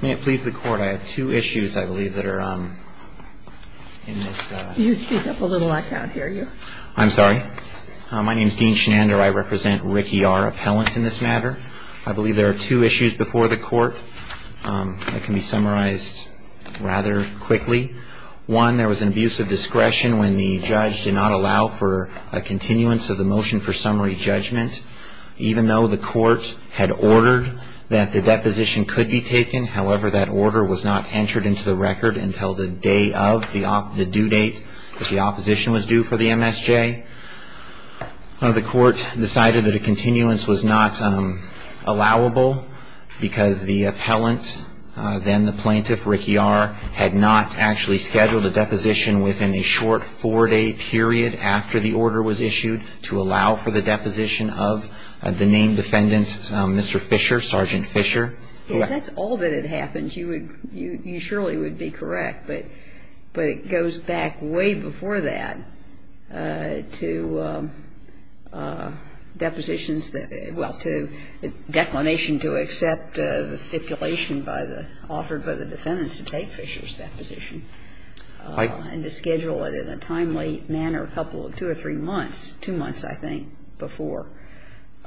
May it please the Court, I have two issues, I believe, that are in this. You speak up a little, I can't hear you. I'm sorry. My name is Dean Shenander. I represent Ricky R. Appellant in this matter. I believe there are two issues before the Court that can be summarized rather quickly. One, there was an abuse of discretion when the judge did not allow for a continuance of the motion for summary judgment. Even though the Court had ordered that the deposition could be taken, however, that order was not entered into the record until the day of the due date, which the opposition was due for the MSJ. The Court decided that a continuance was not allowable because the appellant, then the plaintiff, Ricky R., had not actually scheduled a deposition within a short four-day period after the order was issued to allow for the deposition of the named defendant, Mr. Fisher, Sergeant Fisher. Yes, that's all that had happened. You would you surely would be correct, but it goes back way before that to depositions that, well, to the declination to accept the stipulation by the, offered by the defendants to take Fisher's deposition and to schedule it in a timely manner a couple of, two or three months, two months, I think, before.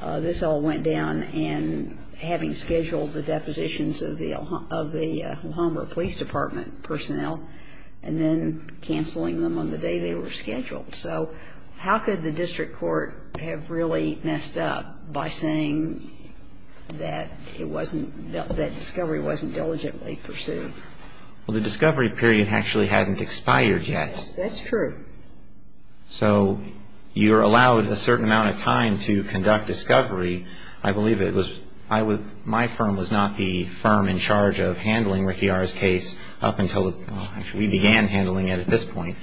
This all went down in having scheduled the depositions of the, of the Alhambra Police Department personnel and then canceling them on the day they were scheduled. So how could the district court have really messed up by saying that it wasn't, that discovery wasn't diligently pursued? Well, the discovery period actually hadn't expired yet. That's true. So you're allowed a certain amount of time to conduct discovery. I believe it was, I was, my firm was not the firm in charge of handling Ricky R.'s case up until, well, actually we began handling it at this point.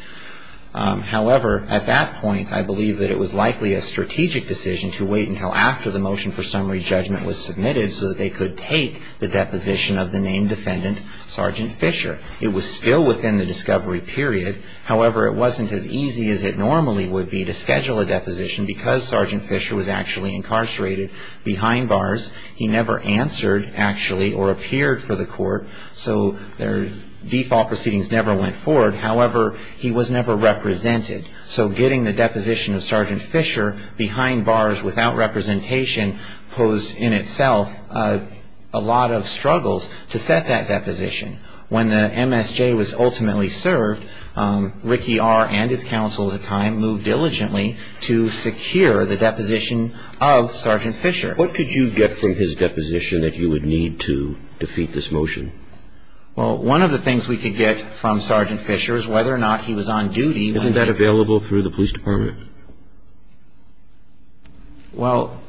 However, at that point, I believe that it was likely a strategic decision to wait until after the motion for summary judgment was submitted so that they could take the deposition of the named defendant, Sergeant Fisher. It was still within the discovery period. However, it wasn't as easy as it normally would be to schedule a deposition because Sergeant Fisher was actually incarcerated behind bars. He never answered, actually, or appeared for the court. So their default proceedings never went forward. However, he was never represented. So getting the deposition of Sergeant Fisher behind bars without representation posed in itself a lot of struggles to set that deposition. When the MSJ was ultimately served, Ricky R. and his counsel at the time moved diligently to secure the deposition of Sergeant Fisher. What could you get from his deposition that you would need to defeat this motion? Well, one of the things we could get from Sergeant Fisher is whether or not he was on duty. Isn't that available through the police department? Well,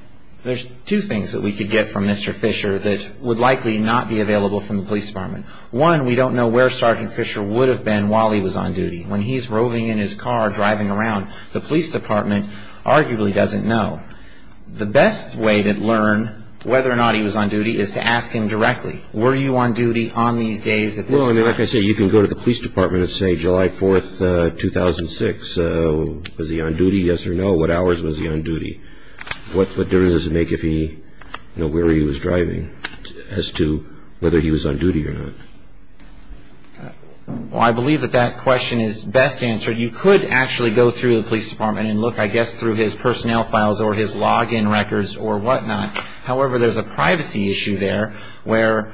there's two things that we could get from Mr. Fisher that would likely not be available from the police department. One, we don't know where Sergeant Fisher would have been while he was on duty. When he's roving in his car driving around, the police department arguably doesn't know. The best way to learn whether or not he was on duty is to ask him directly, were you on duty on these days at this time? Well, like I say, you can go to the police department and say July 4th, 2006, was he on duty, yes or no? What hours was he on duty? What difference does it make if he, you know, where he was driving as to whether he was on duty or not? Well, I believe that that question is best answered. You could actually go through the police department and look, I guess, through his personnel files or his log-in records or whatnot. However, there's a privacy issue there where,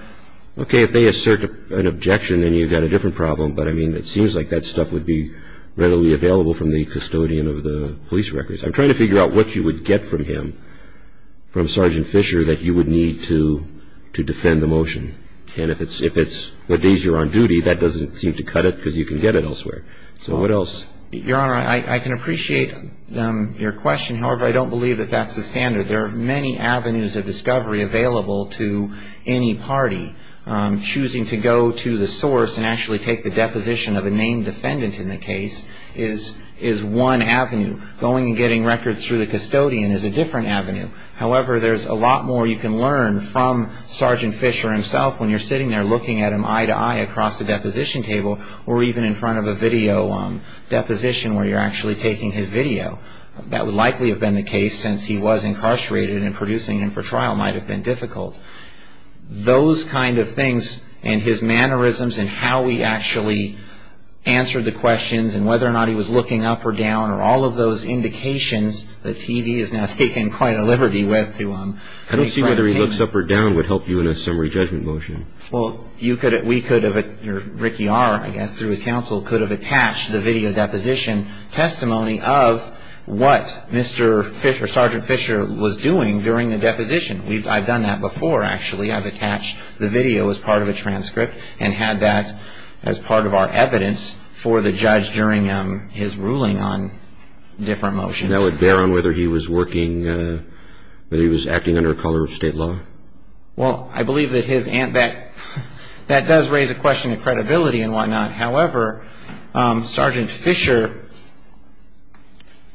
okay, if they assert an objection, then you've got a different problem. But, I mean, it seems like that stuff would be readily available from the custodian of the police records. I'm trying to figure out what you would get from him, from Sergeant Fisher, that you would need to defend the motion. And if it's the days you're on duty, that doesn't seem to cut it because you can get it elsewhere. So what else? Your Honor, I can appreciate your question. However, I don't believe that that's the standard. There are many avenues of discovery available to any party. Choosing to go to the source and actually take the deposition of a named defendant in the case is one avenue. Going and getting records through the custodian is a different avenue. However, there's a lot more you can learn from Sergeant Fisher himself when you're sitting there looking at him eye-to-eye across the deposition table or even in front of a video deposition where you're actually taking his video. That would likely have been the case since he was incarcerated and producing him for trial might have been difficult. Those kind of things and his mannerisms and how he actually answered the questions and whether or not he was looking up or down or all of those indications that TV has now taken quite a liberty with to him. I don't see whether he looks up or down would help you in a summary judgment motion. Well, you could have, we could have, Ricky R., I guess, through his counsel, could have attached the video deposition testimony of what Mr. Fisher, Sergeant Fisher, was doing during the deposition. I've done that before, actually. I've attached the video as part of a transcript and had that as part of our evidence for the judge during his ruling on different motions. That would bear on whether he was working, whether he was acting under color of state law? Well, I believe that his, that does raise a question of credibility and whatnot. However, Sergeant Fisher,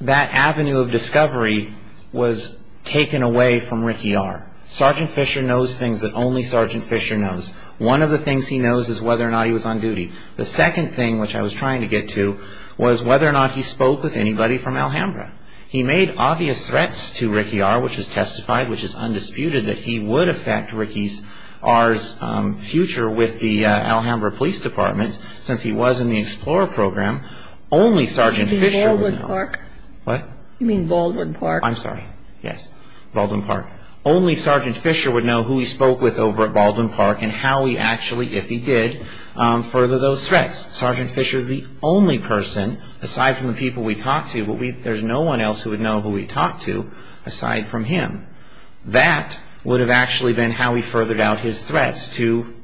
that avenue of discovery was taken away from Ricky R. Sergeant Fisher knows things that only Sergeant Fisher knows. One of the things he knows is whether or not he was on duty. The second thing, which I was trying to get to, was whether or not he spoke with anybody from Alhambra. He made obvious threats to Ricky R., which was testified, which is undisputed, that he would affect Ricky's, R.'s future with the Alhambra Police Department. Since he was in the Explorer Program, only Sergeant Fisher would know. You mean Baldwin Park? What? You mean Baldwin Park? I'm sorry. Yes. Baldwin Park. Only Sergeant Fisher would know who he spoke with over at Baldwin Park and how he actually, if he did, further those threats. Sergeant Fisher is the only person, aside from the people we talked to, there's no one else who would know who he talked to aside from him. That would have actually been how he furthered out his threats to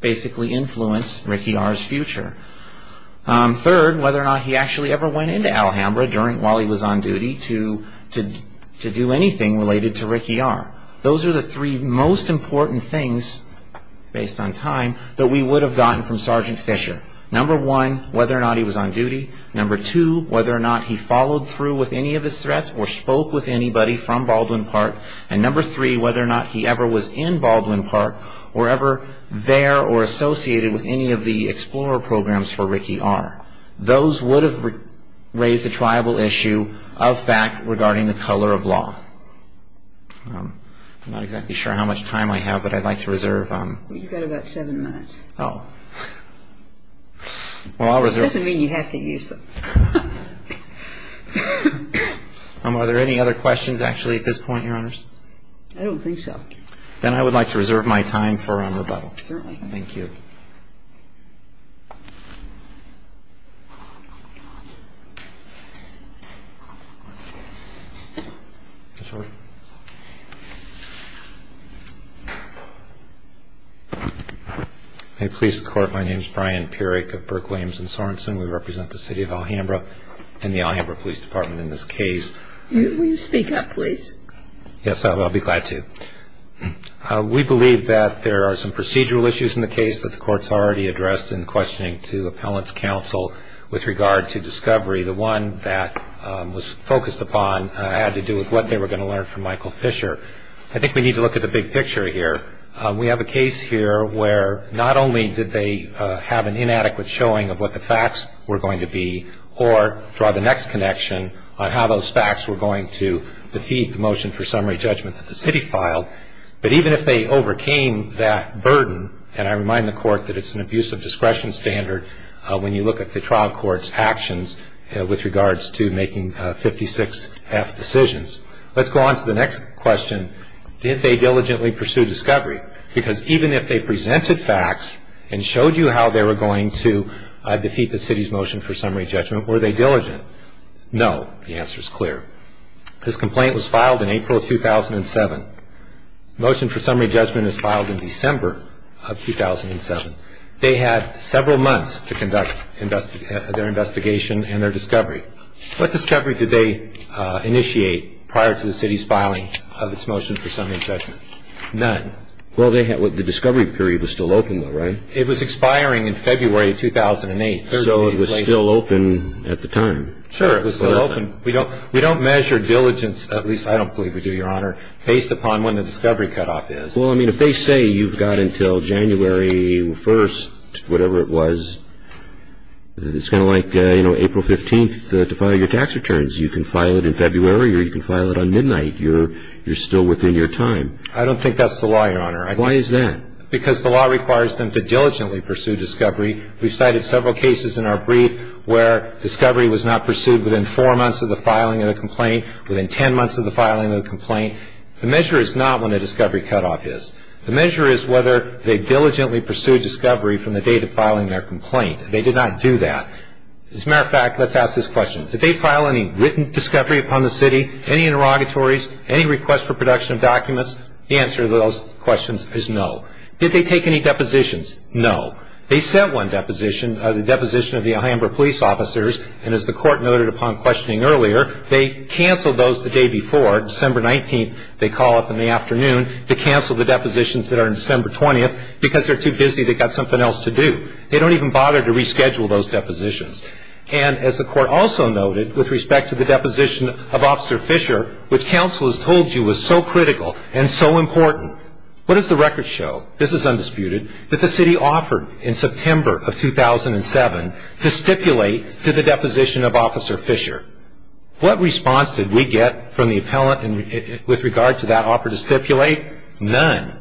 basically influence Ricky R.'s future. Third, whether or not he actually ever went into Alhambra while he was on duty to do anything related to Ricky R. Those are the three most important things, based on time, that we would have gotten from Sergeant Fisher. Number one, whether or not he was on duty. Number two, whether or not he followed through with any of his threats or spoke with anybody from Baldwin Park. And number three, whether or not he ever was in Baldwin Park or ever there or associated with any of the Explorer Programs for Ricky R. Those would have raised a triable issue of fact regarding the color of law. I'm not exactly sure how much time I have, but I'd like to reserve. You've got about seven minutes. Oh. Well, I'll reserve. It doesn't mean you have to use them. Are there any other questions, actually, at this point, Your Honors? I don't think so. Certainly. Thank you. Mr. Sorensen. Hi, police and court. My name is Brian Purick of Burke, Williams & Sorensen. We represent the City of Alhambra and the Alhambra Police Department in this case. Will you speak up, please? Yes, I'll be glad to. We believe that there are some procedural issues in the case that the court's already addressed in questioning to appellant's counsel with regard to discovery. The one that was focused upon had to do with what they were going to learn from Michael Fisher. I think we need to look at the big picture here. We have a case here where not only did they have an inadequate showing of what the facts were going to be or draw the next connection on how those facts were going to defeat the motion for summary judgment that the city filed, but even if they overcame that burden, and I remind the court that it's an abuse of discretion standard when you look at the trial court's actions with regards to making 56-F decisions. Let's go on to the next question. Did they diligently pursue discovery? Because even if they presented facts and showed you how they were going to defeat the city's motion for summary judgment, were they diligent? No. The answer is clear. This complaint was filed in April of 2007. Motion for summary judgment is filed in December of 2007. They had several months to conduct their investigation and their discovery. What discovery did they initiate prior to the city's filing of its motion for summary judgment? None. Well, the discovery period was still open, though, right? It was expiring in February of 2008. Sure, it was still open. We don't measure diligence, at least I don't believe we do, Your Honor, based upon when the discovery cutoff is. Well, I mean, if they say you've got until January 1st, whatever it was, it's kind of like, you know, April 15th to file your tax returns. You can file it in February or you can file it on midnight. You're still within your time. I don't think that's the law, Your Honor. Why is that? Because the law requires them to diligently pursue discovery. We've cited several cases in our brief where discovery was not pursued within four months of the filing of the complaint, within 10 months of the filing of the complaint. The measure is not when the discovery cutoff is. The measure is whether they diligently pursued discovery from the date of filing their complaint. They did not do that. As a matter of fact, let's ask this question. Did they file any written discovery upon the city, any interrogatories, any request for production of documents? The answer to those questions is no. Did they take any depositions? No. They sent one deposition, the deposition of the Alhambra police officers, and as the court noted upon questioning earlier, they canceled those the day before. December 19th, they call up in the afternoon to cancel the depositions that are on December 20th because they're too busy, they've got something else to do. They don't even bother to reschedule those depositions. And as the court also noted with respect to the deposition of Officer Fisher, which counsel has told you was so critical and so important, what does the record show, this is undisputed, that the city offered in September of 2007 to stipulate to the deposition of Officer Fisher? What response did we get from the appellant with regard to that offer to stipulate? None.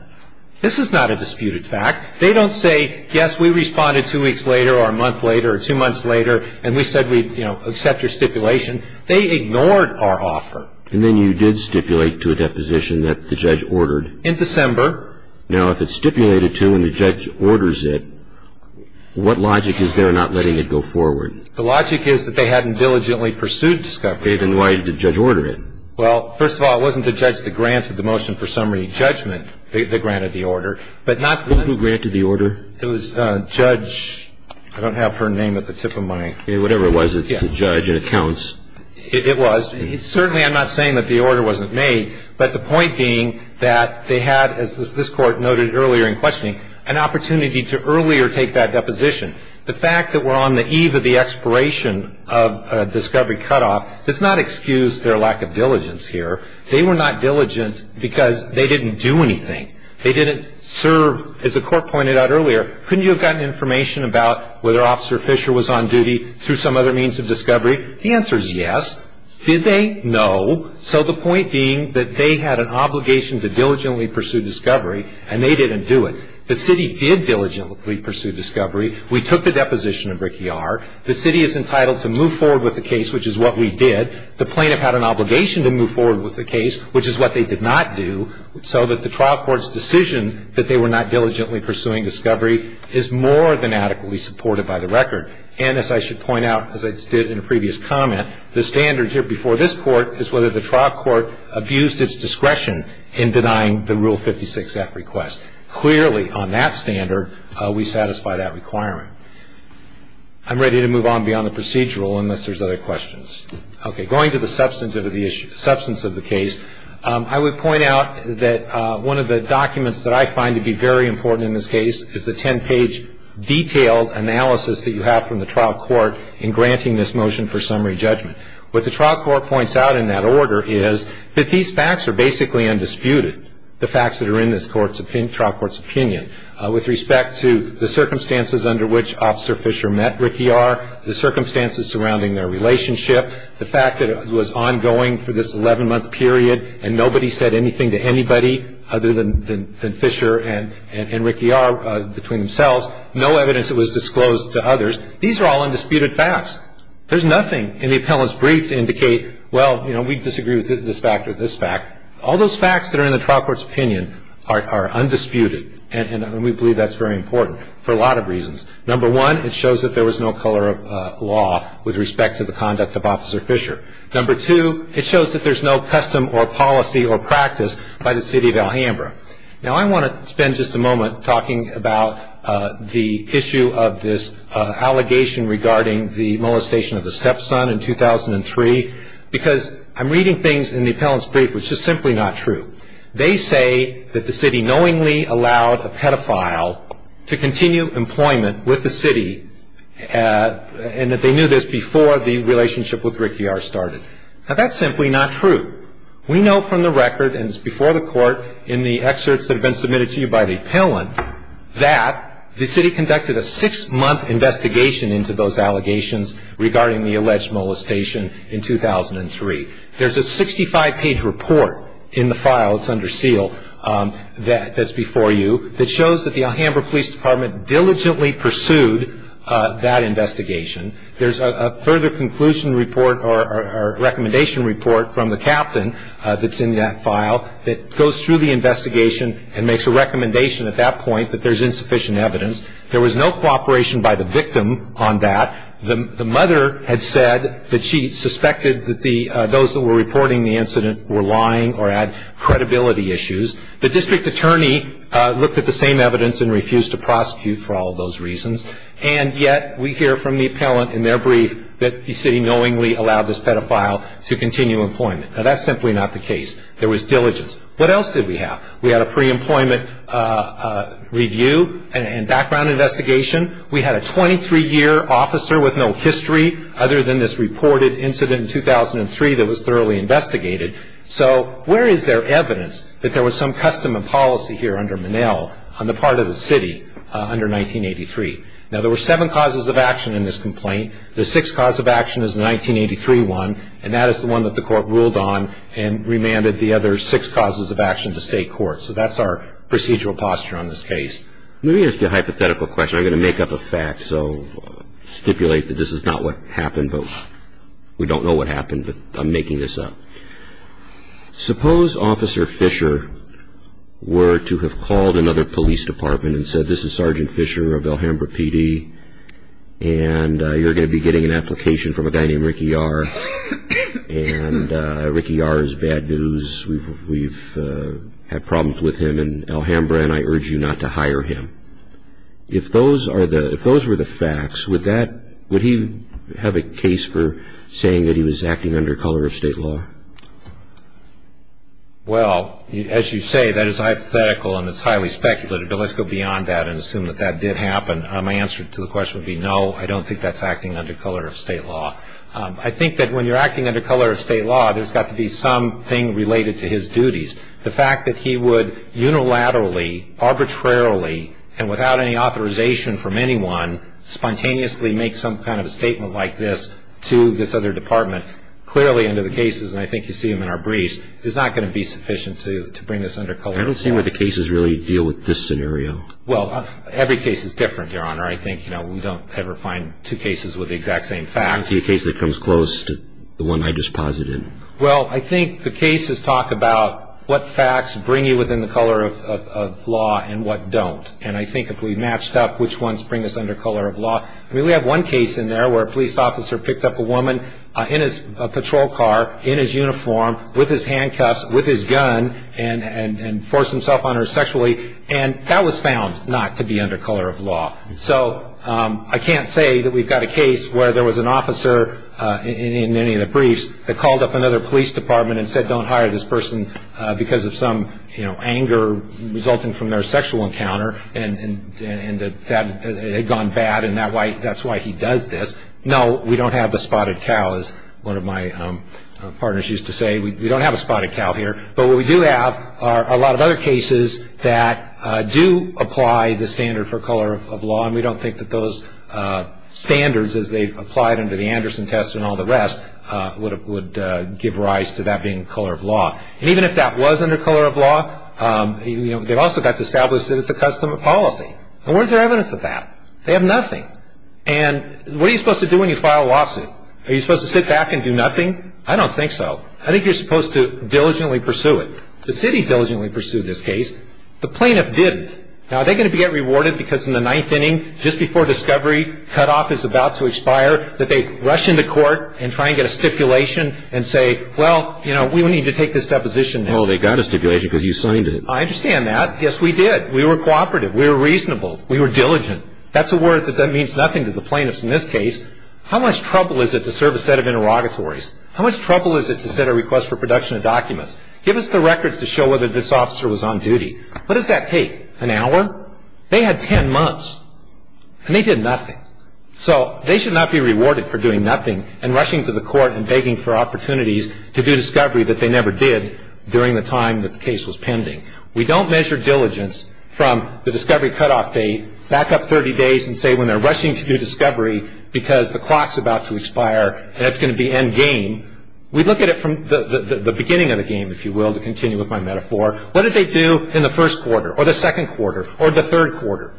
This is not a disputed fact. They don't say, yes, we responded two weeks later or a month later or two months later and we said we'd accept your stipulation. They ignored our offer. And then you did stipulate to a deposition that the judge ordered. In December. Now, if it's stipulated to and the judge orders it, what logic is there not letting it go forward? The logic is that they hadn't diligently pursued discovery. Then why did the judge order it? Well, first of all, it wasn't the judge that granted the motion for summary judgment that granted the order. Who granted the order? It was Judge, I don't have her name at the tip of my. Whatever it was, it's the judge and it counts. It was. Well, certainly I'm not saying that the order wasn't made, but the point being that they had, as this Court noted earlier in questioning, an opportunity to earlier take that deposition. The fact that we're on the eve of the expiration of a discovery cutoff does not excuse their lack of diligence here. They were not diligent because they didn't do anything. They didn't serve, as the Court pointed out earlier. Couldn't you have gotten information about whether Officer Fisher was on duty through some other means of discovery? The answer is yes. Did they? No. So the point being that they had an obligation to diligently pursue discovery and they didn't do it. The city did diligently pursue discovery. We took the deposition of Rick Yar. The city is entitled to move forward with the case, which is what we did. The plaintiff had an obligation to move forward with the case, which is what they did not do, so that the trial court's decision that they were not diligently pursuing discovery is more than adequately supported by the record. And as I should point out, as I did in a previous comment, the standard here before this Court is whether the trial court abused its discretion in denying the Rule 56-F request. Clearly, on that standard, we satisfy that requirement. I'm ready to move on beyond the procedural unless there's other questions. Okay. Going to the substance of the issue, substance of the case, I would point out that one of the documents that I find to be very important in this case is the 10-page detailed analysis that you have from the trial court in granting this motion for summary judgment. What the trial court points out in that order is that these facts are basically undisputed, the facts that are in this trial court's opinion, with respect to the circumstances under which Officer Fischer met Rick Yar, the circumstances surrounding their relationship, the fact that it was ongoing for this 11-month period and nobody said anything to anybody other than Fischer and Rick Yar between themselves, no evidence that was disclosed to others. These are all undisputed facts. There's nothing in the appellant's brief to indicate, well, you know, we disagree with this fact or this fact. All those facts that are in the trial court's opinion are undisputed, and we believe that's very important for a lot of reasons. Number one, it shows that there was no color of law with respect to the conduct of Officer Fischer. Number two, it shows that there's no custom or policy or practice by the City of Alhambra. Now, I want to spend just a moment talking about the issue of this allegation regarding the molestation of the stepson in 2003, because I'm reading things in the appellant's brief which is simply not true. They say that the city knowingly allowed a pedophile to continue employment with the city and that they knew this before the relationship with Rick Yar started. Now, that's simply not true. We know from the record, and it's before the court in the excerpts that have been submitted to you by the appellant, that the city conducted a six-month investigation into those allegations regarding the alleged molestation in 2003. There's a 65-page report in the file that's under seal that's before you that shows that the Alhambra Police Department diligently pursued that investigation. There's a further conclusion report or recommendation report from the captain that's in that file that goes through the investigation and makes a recommendation at that point that there's insufficient evidence. There was no cooperation by the victim on that. The mother had said that she suspected that those that were reporting the incident were lying or had credibility issues. The district attorney looked at the same evidence and refused to prosecute for all of those reasons, and yet we hear from the appellant in their brief that the city knowingly allowed this pedophile to continue employment. Now, that's simply not the case. There was diligence. What else did we have? We had a pre-employment review and background investigation. We had a 23-year officer with no history other than this reported incident in 2003 that was thoroughly investigated. So where is there evidence that there was some custom and policy here under Minnell on the part of the city under 1983? Now, there were seven causes of action in this complaint. The sixth cause of action is the 1983 one, and that is the one that the Court ruled on and remanded the other six causes of action to State court. So that's our procedural posture on this case. Let me ask you a hypothetical question. I'm going to make up a fact, so stipulate that this is not what happened, but we don't know what happened, but I'm making this up. Suppose Officer Fisher were to have called another police department and said, this is Sergeant Fisher of Alhambra PD, and you're going to be getting an application from a guy named Ricky Yar, and Ricky Yar is bad news, we've had problems with him in Alhambra, and I urge you not to hire him. If those were the facts, would he have a case for saying that he was acting under color of state law? Well, as you say, that is hypothetical and it's highly speculative, but let's go beyond that and assume that that did happen. My answer to the question would be no, I don't think that's acting under color of state law. I think that when you're acting under color of state law, there's got to be something related to his duties. The fact that he would unilaterally, arbitrarily, and without any authorization from anyone, spontaneously make some kind of a statement like this to this other department, clearly under the cases, and I think you see them in our briefs, is not going to be sufficient to bring this under color of state law. I don't see where the cases really deal with this scenario. Well, every case is different, Your Honor. I think we don't ever find two cases with the exact same facts. I don't see a case that comes close to the one I just posited. Well, I think the cases talk about what facts bring you within the color of law and what don't, and I think if we matched up which ones bring us under color of law, I mean, we have one case in there where a police officer picked up a woman in his patrol car, in his uniform, with his handcuffs, with his gun, and forced himself on her sexually, and that was found not to be under color of law. So I can't say that we've got a case where there was an officer in any of the briefs that called up another police department and said, don't hire this person because of some anger resulting from their sexual encounter, and that it had gone bad and that's why he does this. No, we don't have the spotted cow, as one of my partners used to say. We don't have a spotted cow here. But what we do have are a lot of other cases that do apply the standard for color of law, and we don't think that those standards, as they've applied under the Anderson test and all the rest, would give rise to that being color of law. And even if that was under color of law, they've also got to establish that it's a custom of policy. And where's their evidence of that? They have nothing. And what are you supposed to do when you file a lawsuit? Are you supposed to sit back and do nothing? I don't think so. I think you're supposed to diligently pursue it. The city diligently pursued this case. The plaintiff didn't. Now, are they going to get rewarded because in the ninth inning, just before discovery, cutoff is about to expire, that they rush into court and try and get a stipulation and say, well, you know, we need to take this deposition now. Well, they got a stipulation because you signed it. I understand that. Yes, we did. We were cooperative. We were reasonable. We were diligent. That's a word that means nothing to the plaintiffs in this case. How much trouble is it to serve a set of interrogatories? How much trouble is it to set a request for production of documents? Give us the records to show whether this officer was on duty. What does that take, an hour? They had ten months, and they did nothing. So they should not be rewarded for doing nothing and rushing to the court and begging for opportunities to do discovery that they never did during the time that the case was pending. We don't measure diligence from the discovery cutoff date back up 30 days and say when they're rushing to do discovery because the clock's about to expire and it's going to be end game. We look at it from the beginning of the game, if you will, to continue with my metaphor. What did they do in the first quarter or the second quarter or the third quarter?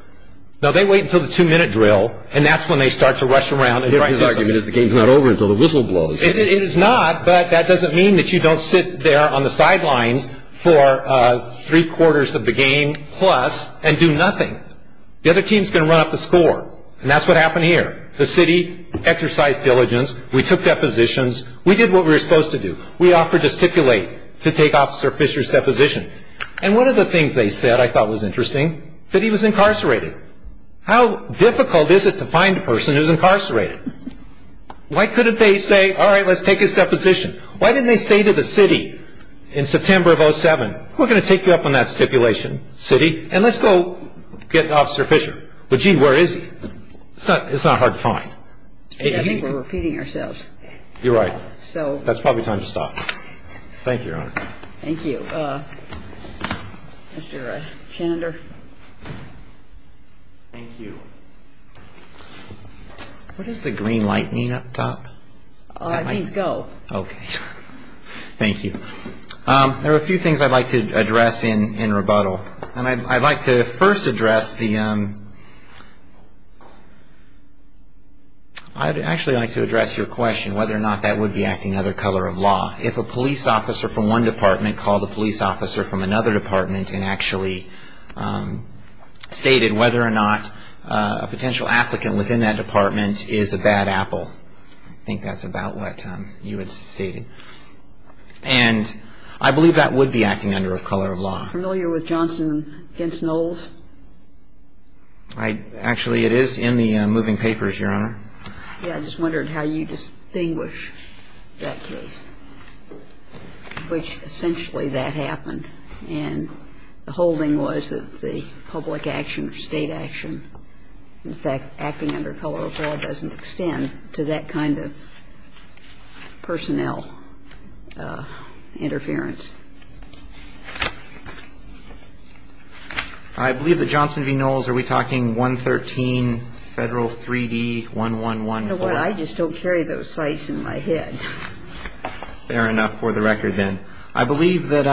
No, they wait until the two-minute drill, and that's when they start to rush around. His argument is the game's not over until the whistle blows. It is not, but that doesn't mean that you don't sit there on the sidelines for three quarters of the game plus and do nothing. The other team's going to run up the score, and that's what happened here. The city exercised diligence. We took depositions. We did what we were supposed to do. We offered to stipulate to take Officer Fisher's deposition. And one of the things they said I thought was interesting, that he was incarcerated. How difficult is it to find a person who's incarcerated? Why couldn't they say, all right, let's take his deposition? Why didn't they say to the city in September of 2007, we're going to take you up on that stipulation, city, and let's go get Officer Fisher. But, gee, where is he? It's not hard to find. I think we're repeating ourselves. You're right. That's probably time to stop. Thank you, Your Honor. Thank you. Mr. Chandler. Thank you. What does the green light mean up top? It means go. Okay. Thank you. There are a few things I'd like to address in rebuttal. And I'd like to first address the ‑‑ I'd actually like to address your question, whether or not that would be acting under color of law. If a police officer from one department called a police officer from another department and actually stated whether or not a potential applicant within that department is a bad apple. I think that's about what you had stated. And I believe that would be acting under color of law. Are you familiar with Johnson v. Knowles? Actually, it is in the moving papers, Your Honor. Yeah. I just wondered how you distinguish that case, which essentially that happened. And the whole thing was that the public action or state action, in fact, I believe that Johnson v. Knowles, are we talking 113 Federal 3D1114? You know what? I just don't carry those sites in my head. Fair enough for the record then. I believe that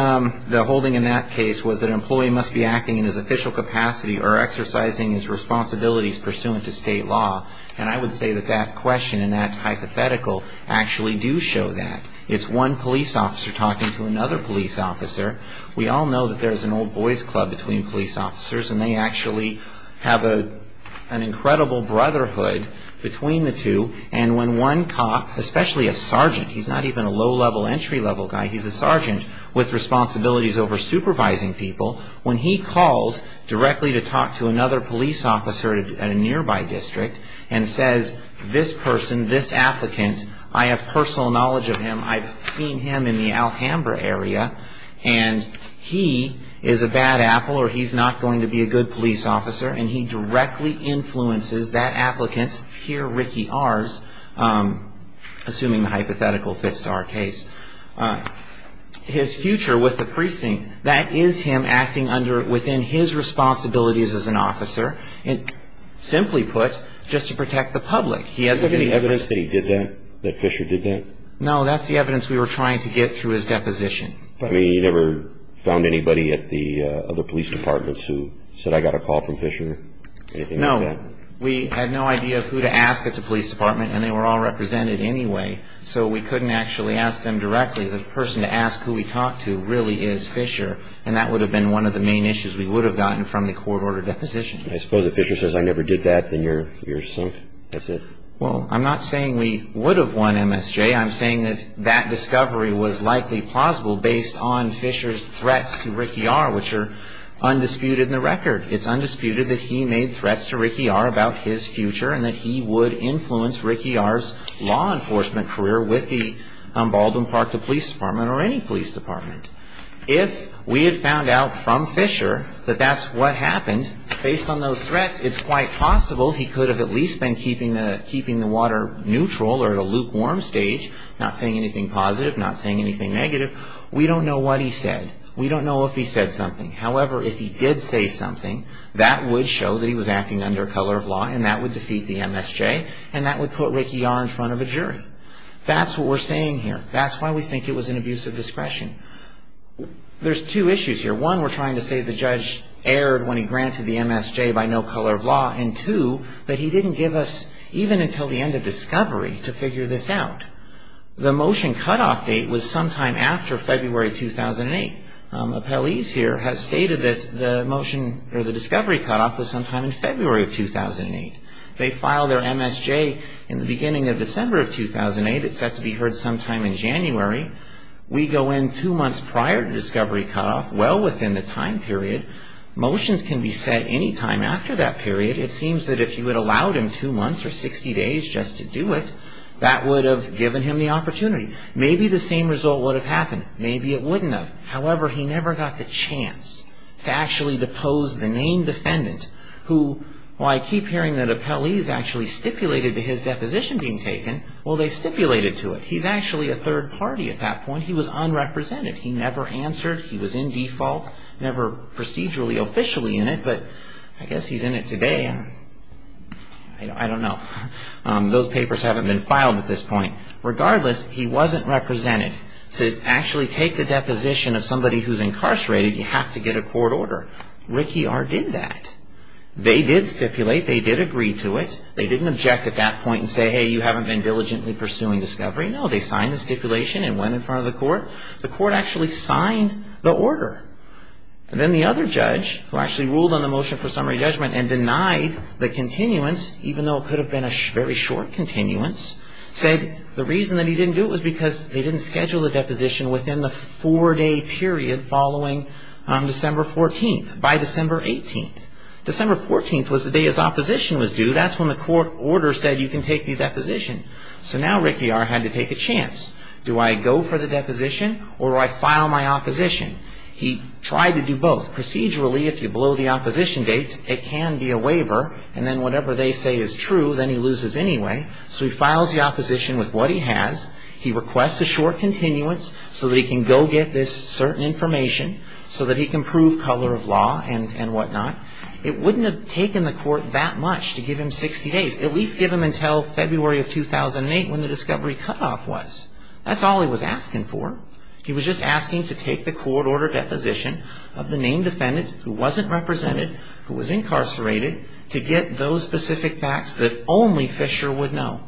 the holding in that case was that an employee must be acting in his official capacity or exercising his responsibilities pursuant to state law. And I would say that that question and that hypothetical actually do show that. It's one police officer talking to another police officer. We all know that there's an old boys club between police officers and they actually have an incredible brotherhood between the two. And when one cop, especially a sergeant, he's not even a low-level, entry-level guy, he's a sergeant with responsibilities over supervising people, when he calls directly to talk to another police officer in a nearby district and says, this person, this applicant, I have personal knowledge of him, I've seen him in the Alhambra area, and he is a bad apple or he's not going to be a good police officer, and he directly influences that applicant's peer Ricky Ars, assuming the hypothetical fits to our case. His future with the precinct, that is him acting within his responsibilities as an officer, simply put, just to protect the public. Is there any evidence that he did that, that Fisher did that? No, that's the evidence we were trying to get through his deposition. You never found anybody at the other police departments who said, I got a call from Fisher, anything like that? No. We had no idea who to ask at the police department, and they were all represented anyway, so we couldn't actually ask them directly. The person to ask who we talked to really is Fisher, and that would have been one of the main issues we would have gotten from the court-ordered deposition. I suppose if Fisher says, I never did that, then you're sunk, that's it? Well, I'm not saying we would have won MSJ. I'm saying that that discovery was likely plausible based on Fisher's threats to Ricky Ars, which are undisputed in the record. It's undisputed that he made threats to Ricky Ars about his future and that he would influence Ricky Ars' law enforcement career with the Baldwin Park Police Department or any police department. If we had found out from Fisher that that's what happened, based on those threats, it's quite possible he could have at least been keeping the water neutral or at a lukewarm stage, not saying anything positive, not saying anything negative. We don't know what he said. We don't know if he said something. However, if he did say something, that would show that he was acting under color of law, and that would defeat the MSJ, and that would put Ricky Ar in front of a jury. That's what we're saying here. That's why we think it was an abuse of discretion. There's two issues here. One, we're trying to say the judge erred when he granted the MSJ by no color of law, and two, that he didn't give us even until the end of discovery to figure this out. The motion cutoff date was sometime after February 2008. Appellees here have stated that the motion or the discovery cutoff was sometime in February of 2008. They filed their MSJ in the beginning of December of 2008. It's set to be heard sometime in January. We go in two months prior to discovery cutoff, well within the time period. Motions can be set any time after that period. It seems that if you had allowed him two months or 60 days just to do it, that would have given him the opportunity. Maybe the same result would have happened. Maybe it wouldn't have. However, he never got the chance to actually depose the named defendant who, while I keep hearing that appellees actually stipulated to his deposition being taken, well, they stipulated to it. He's actually a third party at that point. He was unrepresented. He never answered. He was in default. Never procedurally, officially in it, but I guess he's in it today. I don't know. Those papers haven't been filed at this point. Regardless, he wasn't represented. To actually take the deposition of somebody who's incarcerated, you have to get a court order. RICI-R did that. They did stipulate. They did agree to it. They didn't object at that point and say, hey, you haven't been diligently pursuing discovery. No, they signed the stipulation and went in front of the court. The court actually signed the order. And then the other judge, who actually ruled on the motion for summary judgment and denied the continuance, even though it could have been a very short continuance, said the reason that he didn't do it was because they didn't schedule the deposition within the four-day period following December 14th, by December 18th. December 14th was the day his opposition was due. That's when the court order said you can take the deposition. So now RICI-R had to take a chance. Do I go for the deposition or do I file my opposition? He tried to do both. Procedurally, if you blow the opposition date, it can be a waiver. And then whatever they say is true, then he loses anyway. So he files the opposition with what he has. He requests a short continuance so that he can go get this certain information, so that he can prove color of law and whatnot. It wouldn't have taken the court that much to give him 60 days. At least give him until February of 2008 when the discovery cutoff was. That's all he was asking for. He was just asking to take the court order deposition of the named defendant who wasn't represented, who was incarcerated, to get those specific facts that only Fisher would know.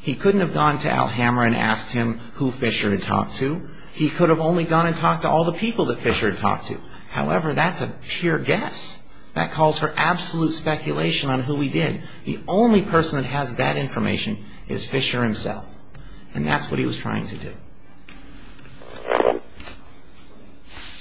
He couldn't have gone to Alhambra and asked him who Fisher had talked to. He could have only gone and talked to all the people that Fisher had talked to. However, that's a pure guess. That calls for absolute speculation on who he did. The only person that has that information is Fisher himself. And that's what he was trying to do.